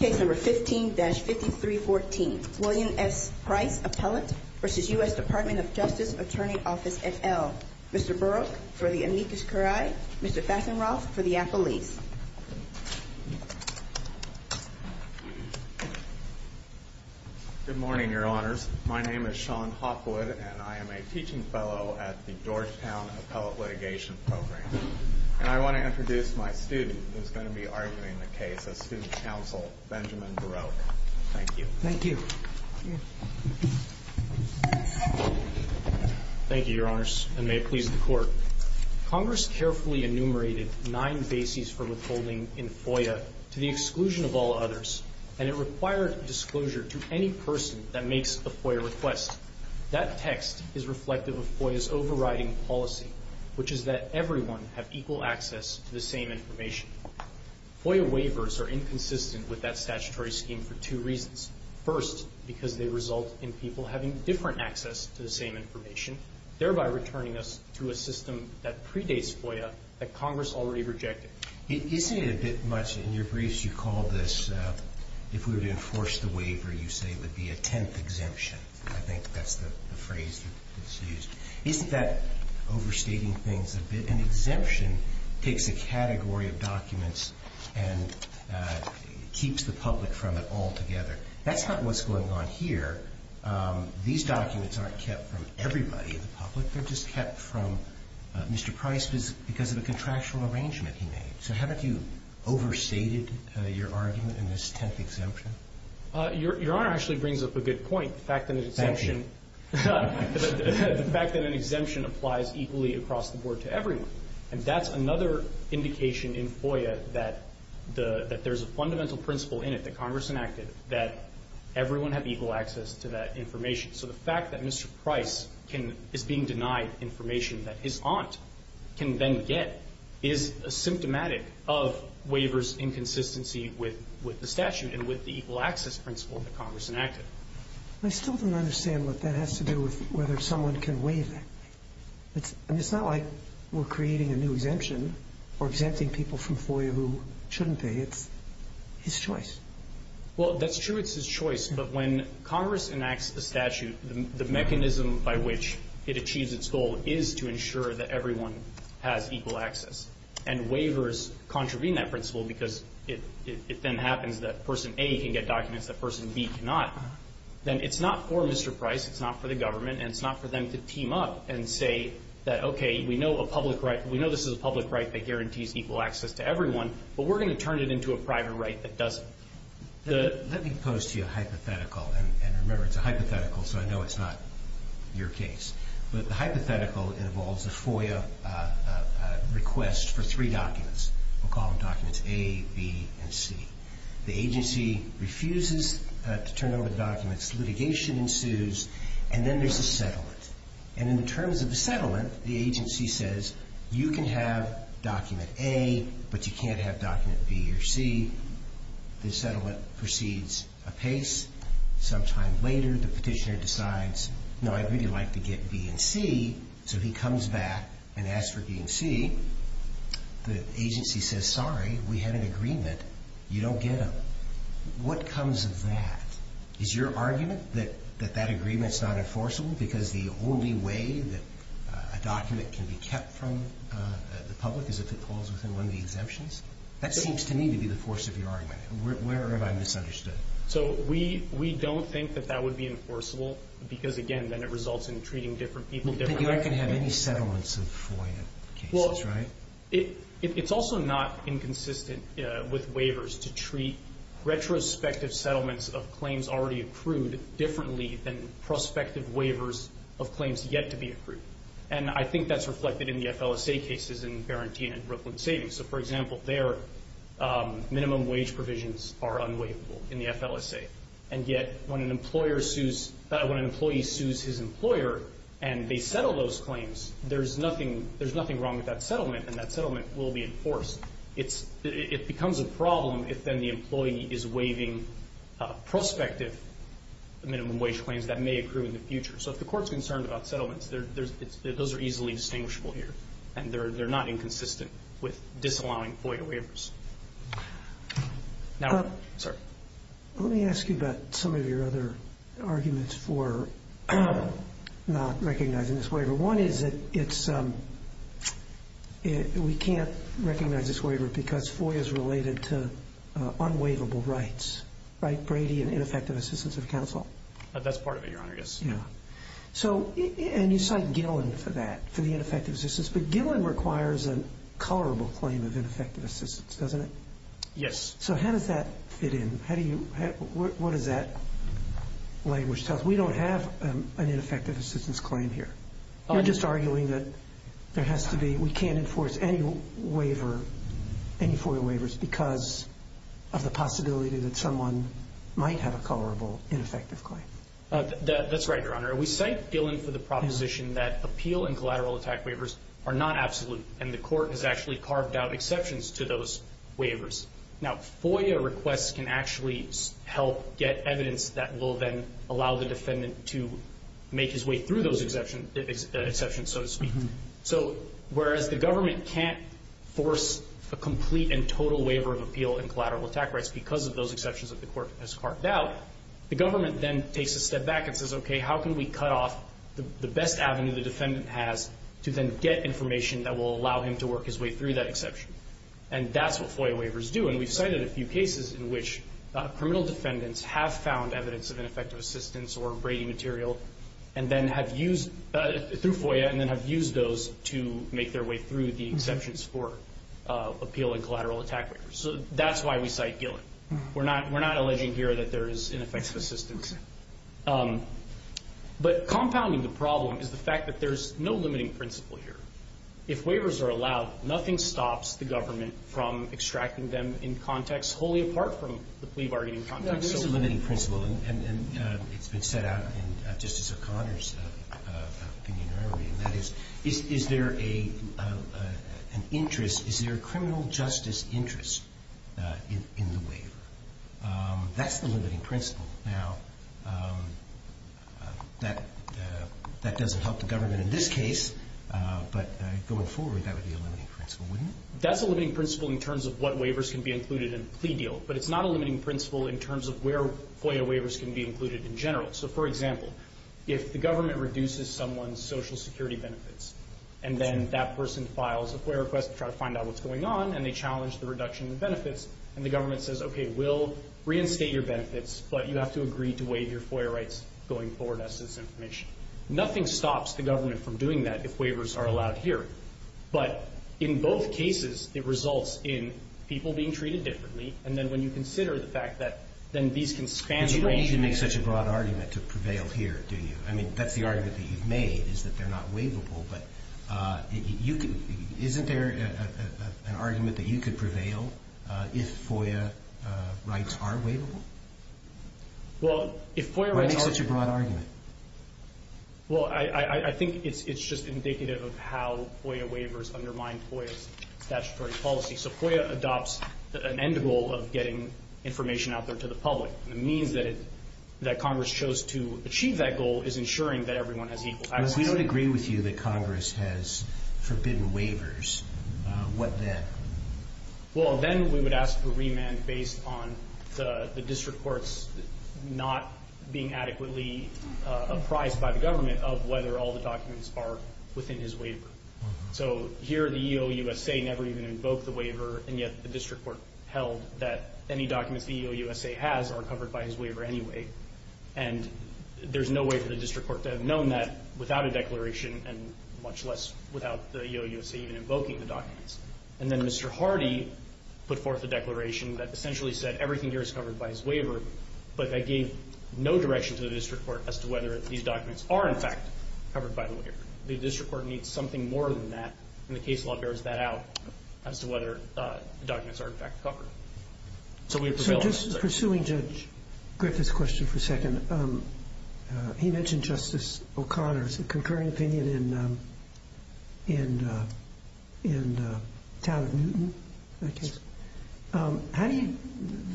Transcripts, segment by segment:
Case No. 15-5314, William S. Price, Appellate v. U.S. DOJ Attorney Office, et al. Mr. Burok for the Amicus Curiae, Mr. Fassenroth for the Appellees. Good morning, Your Honors. My name is Sean Hopwood, and I am a teaching fellow at the Georgetown Appellate Litigation Program. And I want to introduce my student who is going to be arguing the case, a student counsel, Benjamin Burok. Thank you. Thank you. Thank you, Your Honors, and may it please the Court. Congress carefully enumerated nine bases for withholding in FOIA to the exclusion of all others, and it required disclosure to any person that makes a FOIA request. That text is reflective of FOIA's overriding policy, which is that everyone have equal access to the same information. FOIA waivers are inconsistent with that statutory scheme for two reasons. First, because they result in people having different access to the same information, thereby returning us to a system that predates FOIA that Congress already rejected. Isn't it a bit much, in your briefs you called this, if we were to enforce the waiver, you say it would be a tenth exemption. I think that's the phrase that's used. Isn't that overstating things a bit? An exemption takes a category of documents and keeps the public from it altogether. That's not what's going on here. These documents aren't kept from everybody in the public. They're just kept from Mr. Price because of a contractual arrangement he made. So haven't you overstated your argument in this tenth exemption? Your Honor actually brings up a good point. Thank you. The fact that an exemption applies equally across the board to everyone. And that's another indication in FOIA that there's a fundamental principle in it that Congress enacted that everyone have equal access to that information. So the fact that Mr. Price is being denied information that his aunt can then get is symptomatic of waivers' inconsistency with the statute and with the equal access principle that Congress enacted. I still don't understand what that has to do with whether someone can waive it. It's not like we're creating a new exemption or exempting people from FOIA who shouldn't be. It's his choice. Well, that's true. It's his choice. But when Congress enacts the statute, the mechanism by which it achieves its goal is to ensure that everyone has equal access. And waivers contravene that principle because it then happens that person A can get documents that person B cannot. Then it's not for Mr. Price. It's not for the government. And it's not for them to team up and say that, okay, we know a public right. We know this is a public right that guarantees equal access to everyone. But we're going to turn it into a private right that doesn't. Let me pose to you a hypothetical. And remember, it's a hypothetical, so I know it's not your case. But the hypothetical involves a FOIA request for three documents. We'll call them documents A, B, and C. The agency refuses to turn over the documents. Litigation ensues, and then there's a settlement. And in terms of the settlement, the agency says, you can have document A, but you can't have document B or C. The settlement proceeds apace. Sometime later, the petitioner decides, no, I'd really like to get B and C. So he comes back and asks for B and C. The agency says, sorry, we have an agreement. But you don't get them. What comes of that? Is your argument that that agreement's not enforceable because the only way that a document can be kept from the public is if it falls within one of the exemptions? That seems to me to be the force of your argument. Where am I misunderstood? So we don't think that that would be enforceable because, again, then it results in treating different people differently. But you aren't going to have any settlements of FOIA cases, right? It's also not inconsistent with waivers to treat retrospective settlements of claims already accrued differently than prospective waivers of claims yet to be accrued. And I think that's reflected in the FLSA cases in Barentine and Brooklyn Savings. So, for example, their minimum wage provisions are unwaivable in the FLSA. And yet when an employee sues his employer and they settle those claims, there's nothing wrong with that settlement. And that settlement will be enforced. It becomes a problem if then the employee is waiving prospective minimum wage claims that may accrue in the future. So if the Court's concerned about settlements, those are easily distinguishable here. And they're not inconsistent with disallowing FOIA waivers. Let me ask you about some of your other arguments for not recognizing this waiver. One is that we can't recognize this waiver because FOIA is related to unwaivable rights, right? Brady and ineffective assistance of counsel. That's part of it, Your Honor, yes. And you cite Gillen for that, for the ineffective assistance. But Gillen requires a colorable claim of ineffective assistance, doesn't it? Yes. So how does that fit in? What does that language tell us? We don't have an ineffective assistance claim here. You're just arguing that we can't enforce any FOIA waivers because of the possibility that someone might have a colorable ineffective claim. That's right, Your Honor. We cite Gillen for the proposition that appeal and collateral attack waivers are not absolute. And the Court has actually carved out exceptions to those waivers. Now, FOIA requests can actually help get evidence that will then allow the defendant to make his way through those exceptions, so to speak. So whereas the government can't force a complete and total waiver of appeal and collateral attack rights because of those exceptions that the Court has carved out, the government then takes a step back and says, okay, how can we cut off the best avenue the defendant has to then get information that will allow him to work his way through that exception? And that's what FOIA waivers do. And we've cited a few cases in which criminal defendants have found evidence of ineffective assistance or Brady material through FOIA and then have used those to make their way through the exceptions for appeal and collateral attack waivers. So that's why we cite Gillen. We're not alleging here that there is ineffective assistance. But compounding the problem is the fact that there's no limiting principle here. If waivers are allowed, nothing stops the government from extracting them in context wholly apart from the plea bargaining context. There is a limiting principle, and it's been set out in Justice O'Connor's opinion earlier, that is, is there an interest, is there a criminal justice interest in the waiver? That's the limiting principle. Now, that doesn't help the government in this case, but going forward, that would be a limiting principle, wouldn't it? That's a limiting principle in terms of what waivers can be included in a plea deal, but it's not a limiting principle in terms of where FOIA waivers can be included in general. So, for example, if the government reduces someone's Social Security benefits and then that person files a FOIA request to try to find out what's going on and they challenge the reduction in benefits and the government says, okay, we'll reinstate your benefits, but you have to agree to waive your FOIA rights going forward, that's this information. Nothing stops the government from doing that if waivers are allowed here. But in both cases, it results in people being treated differently, and then when you consider the fact that then these can span the range. You don't need to make such a broad argument to prevail here, do you? I mean, that's the argument that you've made is that they're not waivable, but isn't there an argument that you could prevail if FOIA rights are waivable? Well, if FOIA rights are— Why make such a broad argument? Well, I think it's just indicative of how FOIA waivers undermine FOIA's statutory policy. So FOIA adopts an end goal of getting information out there to the public. The means that Congress chose to achieve that goal is ensuring that everyone has equal access. If we don't agree with you that Congress has forbidden waivers, what then? Well, then we would ask for remand based on the district courts not being adequately apprised by the government of whether all the documents are within his waiver. So here the EOUSA never even invoked the waiver, and yet the district court held that any documents the EOUSA has are covered by his waiver anyway. And there's no way for the district court to have known that without a declaration and much less without the EOUSA even invoking the documents. And then Mr. Hardy put forth a declaration that essentially said everything here is covered by his waiver, but that gave no direction to the district court as to whether these documents are, in fact, covered by the waiver. The district court needs something more than that, and the case law bears that out as to whether the documents are, in fact, covered. So just pursuing Judge Griffith's question for a second, he mentioned Justice O'Connor's concurring opinion in Town of Newton, I guess.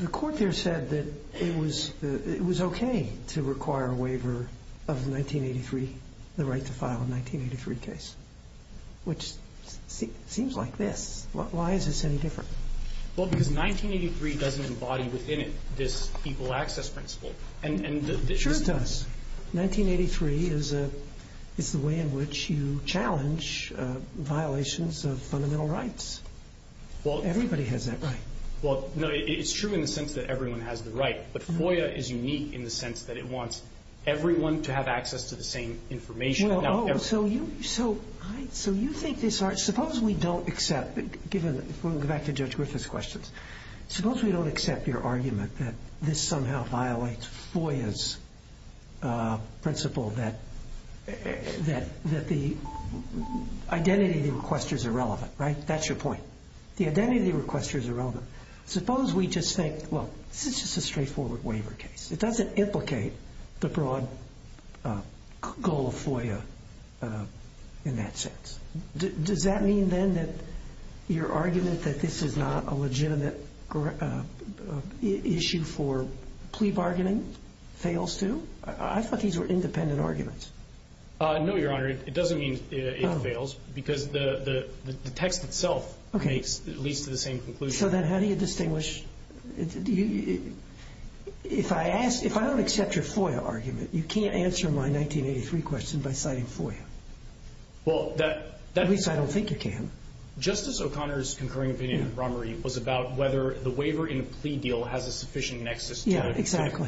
The court there said that it was okay to require a waiver of 1983, the right to file a 1983 case, which seems like this. Why is this any different? Well, because 1983 doesn't embody within it this equal access principle. Sure it does. 1983 is the way in which you challenge violations of fundamental rights. Everybody has that right. Well, no, it's true in the sense that everyone has the right, but FOIA is unique in the sense that it wants everyone to have access to the same information. Oh, so you think this are – suppose we don't accept, given – we'll go back to Judge Griffith's questions. Suppose we don't accept your argument that this somehow violates FOIA's principle that the identity of the requester is irrelevant, right? That's your point. The identity of the requester is irrelevant. Suppose we just think, well, this is just a straightforward waiver case. It doesn't implicate the broad goal of FOIA in that sense. Does that mean then that your argument that this is not a legitimate issue for plea bargaining fails too? I thought these were independent arguments. No, Your Honor. It doesn't mean it fails because the text itself leads to the same conclusion. So then how do you distinguish? If I ask – if I don't accept your FOIA argument, you can't answer my 1983 question by citing FOIA. Well, that – At least I don't think you can. Justice O'Connor's concurring opinion, Ron Marie, was about whether the waiver in a plea deal has a sufficient nexus to the criminal process. Yeah, exactly.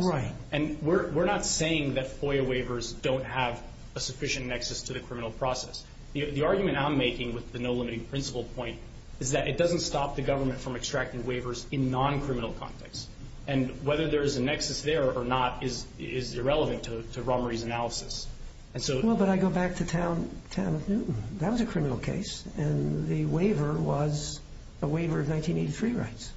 Right. And we're not saying that FOIA waivers don't have a sufficient nexus to the criminal process. The argument I'm making with the no limiting principle point is that it doesn't stop the government from extracting waivers in non-criminal contexts. And whether there is a nexus there or not is irrelevant to Ron Marie's analysis. And so – Well, but I go back to Town of Newton. That was a criminal case, and the waiver was a waiver of 1983 rights.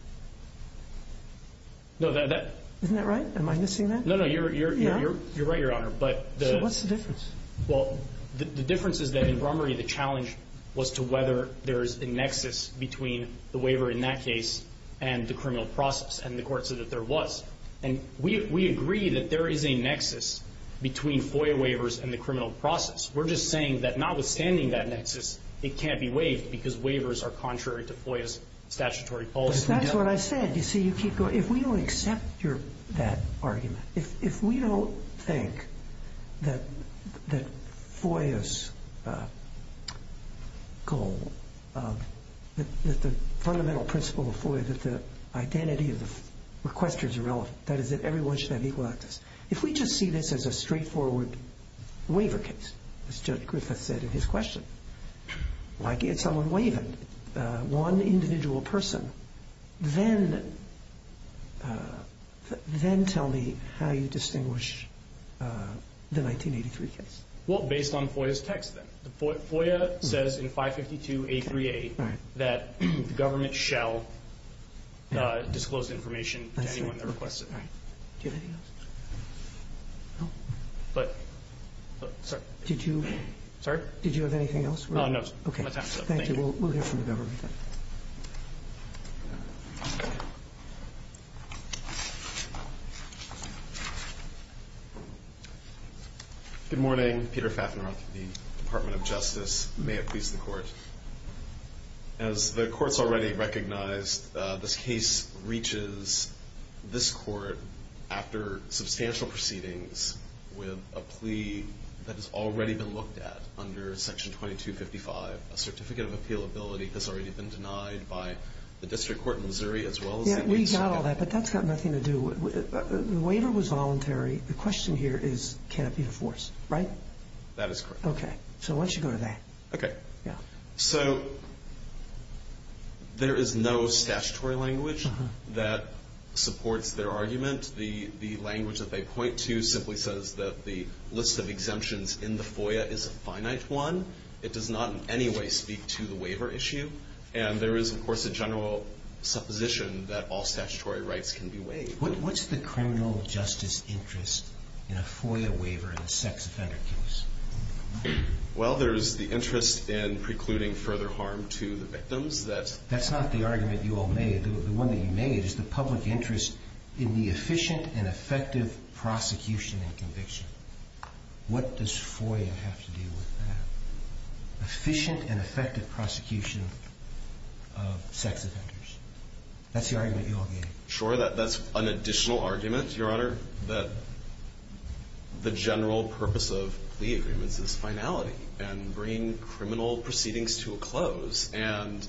No, that – Isn't that right? Am I missing that? No, no. You're right, Your Honor. So what's the difference? Well, the difference is that in Brummery, the challenge was to whether there is a nexus between the waiver in that case and the criminal process, and the court said that there was. And we agree that there is a nexus between FOIA waivers and the criminal process. We're just saying that notwithstanding that nexus, it can't be waived because waivers are contrary to FOIA's statutory policy. That's what I said. You see, you keep going. If we don't accept your – that argument, if we don't think that FOIA's goal, that the fundamental principle of FOIA, that the identity of the requester is irrelevant, that is, that everyone should have equal access, if we just see this as a straightforward waiver case, as Judge Griffith said in his question, like if someone waived one individual person, then tell me how you distinguish the 1983 case. Well, based on FOIA's text then. FOIA says in 552A3A that the government shall disclose information to anyone that requests it. Do you have anything else? No. But – sorry. Did you – Sorry? Did you have anything else? No. Okay. Thank you. We'll hear from the government. Good morning. Peter Fafneroth with the Department of Justice. May it please the Court. As the Court's already recognized, this case reaches this Court after substantial proceedings with a plea that has already been looked at under Section 2255. A certificate of appealability has already been denied by the District Court in Missouri, as well as the – Yeah, we got all that, but that's got nothing to do with – the waiver was voluntary. The question here is can it be enforced, right? That is correct. Okay. So why don't you go to that? Okay. Yeah. So there is no statutory language that supports their argument. The language that they point to simply says that the list of exemptions in the FOIA is a finite one. It does not in any way speak to the waiver issue. And there is, of course, a general supposition that all statutory rights can be waived. What's the criminal justice interest in a FOIA waiver in a sex offender case? Well, there is the interest in precluding further harm to the victims. That's not the argument you all made. The one that you made is the public interest in the efficient and effective prosecution and conviction. What does FOIA have to do with that? Efficient and effective prosecution of sex offenders. That's the argument you all made. Sure. That's an additional argument, Your Honor, that the general purpose of plea agreements is finality and bringing criminal proceedings to a close. And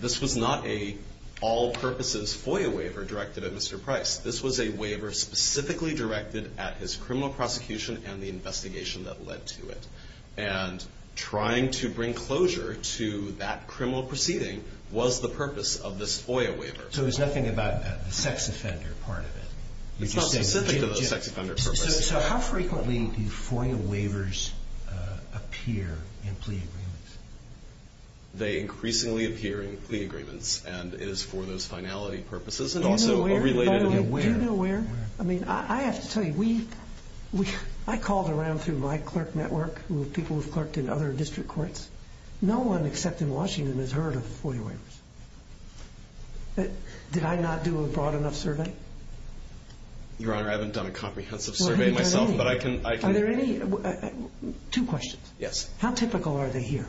this was not an all-purposes FOIA waiver directed at Mr. Price. This was a waiver specifically directed at his criminal prosecution and the investigation that led to it. And trying to bring closure to that criminal proceeding was the purpose of this FOIA waiver. So it was nothing about the sex offender part of it? It's not specific to the sex offender purpose. So how frequently do FOIA waivers appear in plea agreements? They increasingly appear in plea agreements, and it is for those finality purposes and also related to the waiver. Do you know where? I mean, I have to tell you, I called around through my clerk network, people who have clerked in other district courts. No one except in Washington has heard of FOIA waivers. Did I not do a broad enough survey? Your Honor, I haven't done a comprehensive survey myself, but I can. Are there any? Two questions. Yes. How typical are they here?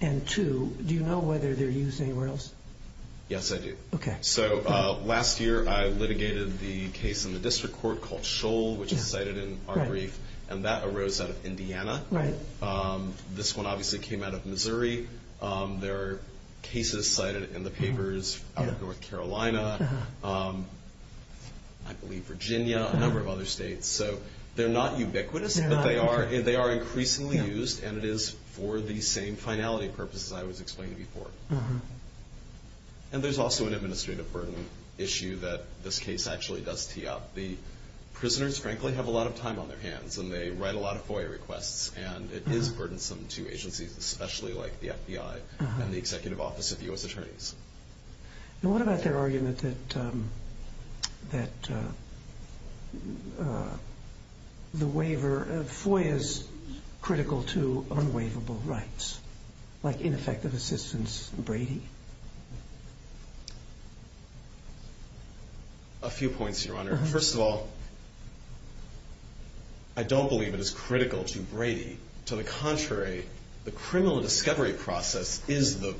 And two, do you know whether they're used anywhere else? Yes, I do. Okay. So last year I litigated the case in the district court called Shoal, which is cited in our brief, and that arose out of Indiana. Right. This one obviously came out of Missouri. There are cases cited in the papers out of North Carolina, I believe Virginia, a number of other states. So they're not ubiquitous, but they are increasingly used, and it is for the same finality purposes I was explaining before. And there's also an administrative burden issue that this case actually does tee up. The prisoners, frankly, have a lot of time on their hands, and they write a lot of FOIA requests, and it is burdensome to agencies, especially like the FBI and the Executive Office of the U.S. Attorneys. And what about their argument that the waiver of FOIA is critical to unwaivable rights, like ineffective assistance and Brady? A few points, Your Honor. First of all, I don't believe it is critical to Brady. To the contrary, the criminal discovery process is the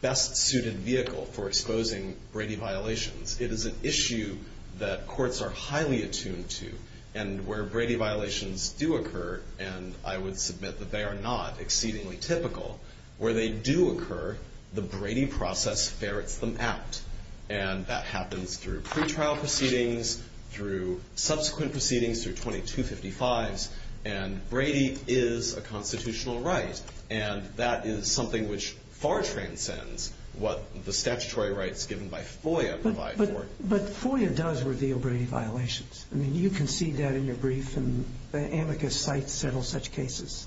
best-suited vehicle for exposing Brady violations. It is an issue that courts are highly attuned to, and where Brady violations do occur, and I would submit that they are not exceedingly typical, where they do occur, the Brady process ferrets them out. And that happens through pretrial proceedings, through subsequent proceedings, through 2255s, and Brady is a constitutional right, and that is something which far transcends what the statutory rights given by FOIA provide for it. But FOIA does reveal Brady violations. I mean, you concede that in your brief, and the amicus cites several such cases,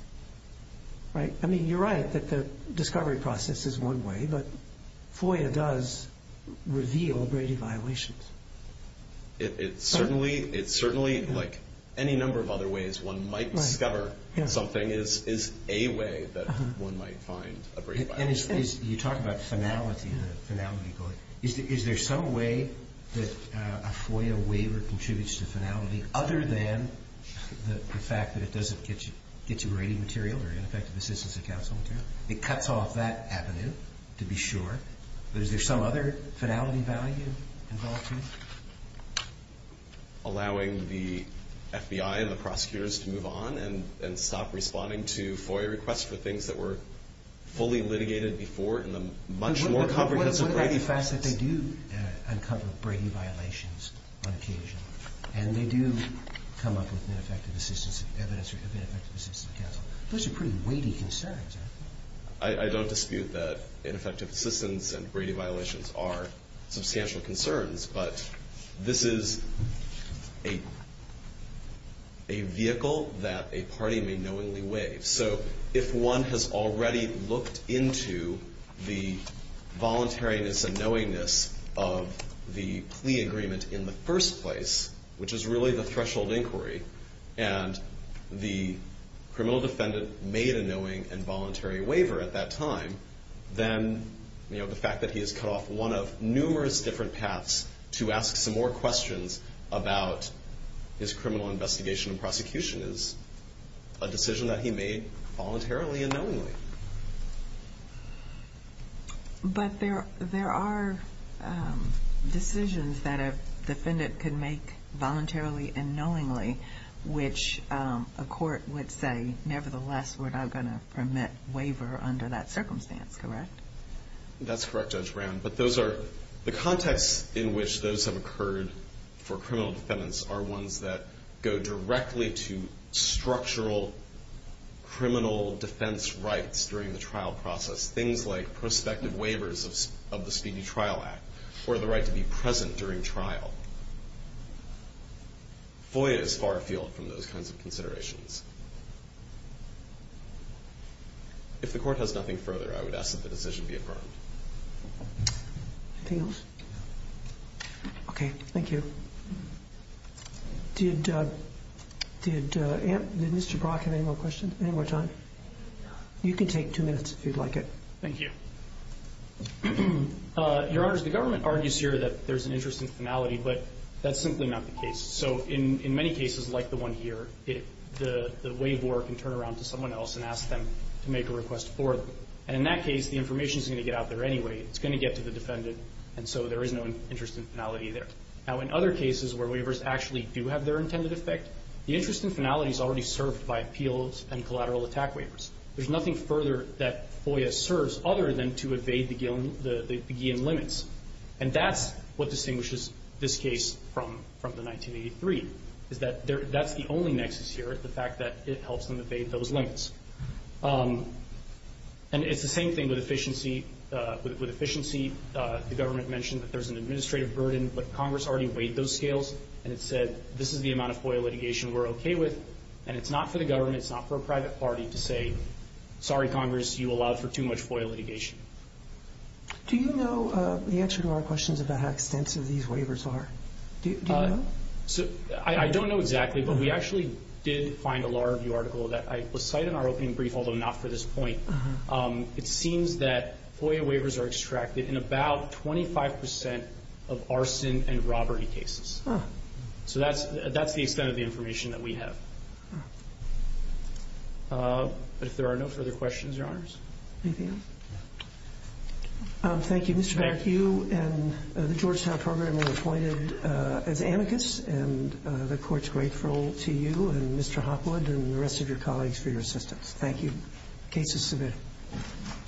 right? I mean, you're right that the discovery process is one way, but FOIA does reveal Brady violations. It certainly, like any number of other ways one might discover something, is a way that one might find a Brady violation. And you talk about finality, the finality going. Is there some way that a FOIA waiver contributes to finality, other than the fact that it doesn't get you Brady material or ineffective assistance and counsel material? It cuts off that avenue, to be sure, but is there some other finality value involved here? Allowing the FBI and the prosecutors to move on and stop responding to FOIA requests for things that were fully litigated before, and the much more comprehensive Brady process. What about the fact that they do uncover Brady violations on occasion, and they do come up with ineffective assistance, evidence of ineffective assistance and counsel? Those are pretty weighty concerns. I don't dispute that ineffective assistance and Brady violations are substantial concerns, but this is a vehicle that a party may knowingly waive. So if one has already looked into the voluntariness and knowingness of the plea agreement in the first place, which is really the threshold inquiry, and the criminal defendant made a knowing and voluntary waiver at that time, then the fact that he has cut off one of numerous different paths to ask some more questions about his criminal investigation and prosecution is a decision that he made voluntarily and knowingly. But there are decisions that a defendant can make voluntarily and knowingly, which a court would say, nevertheless, we're not going to permit waiver under that circumstance, correct? That's correct, Judge Brown. But those are the contexts in which those have occurred for criminal defendants are ones that go directly to structural criminal defense rights during the trial process, things like prospective waivers of the Speedy Trial Act or the right to be present during trial. FOIA is far afield from those kinds of considerations. If the Court has nothing further, I would ask that the decision be affirmed. Anything else? Okay. Thank you. Did Mr. Brock have any more questions? Any more time? You can take two minutes if you'd like it. Thank you. Your Honors, the government argues here that there's an interest in finality, but that's simply not the case. So in many cases, like the one here, the waiver can turn around to someone else and ask them to make a request for them. And in that case, the information is going to get out there anyway. It's going to get to the defendant, and so there is no interest in finality there. Now, in other cases where waivers actually do have their intended effect, the interest in finality is already served by appeals and collateral attack waivers. There's nothing further that FOIA serves other than to evade the Guillen limits. And that's what distinguishes this case from the 1983, is that that's the only nexus here, the fact that it helps them evade those limits. And it's the same thing with efficiency. With efficiency, the government mentioned that there's an administrative burden, but Congress already weighed those scales, and it said this is the amount of FOIA litigation we're okay with, and it's not for the government, it's not for a private party to say, sorry, Congress, you allowed for too much FOIA litigation. Do you know the answer to our questions about how extensive these waivers are? Do you know? I don't know exactly, but we actually did find a Law Review article that was cited in our opening brief, although not for this point. It seems that FOIA waivers are extracted in about 25% of arson and robbery cases. So that's the extent of the information that we have. But if there are no further questions, Your Honors. Anything else? Thank you, Mr. Beck. You and the Georgetown program were appointed as amicus, and the Court's grateful to you and Mr. Hopwood and the rest of your colleagues for your assistance. Thank you. Case is submitted.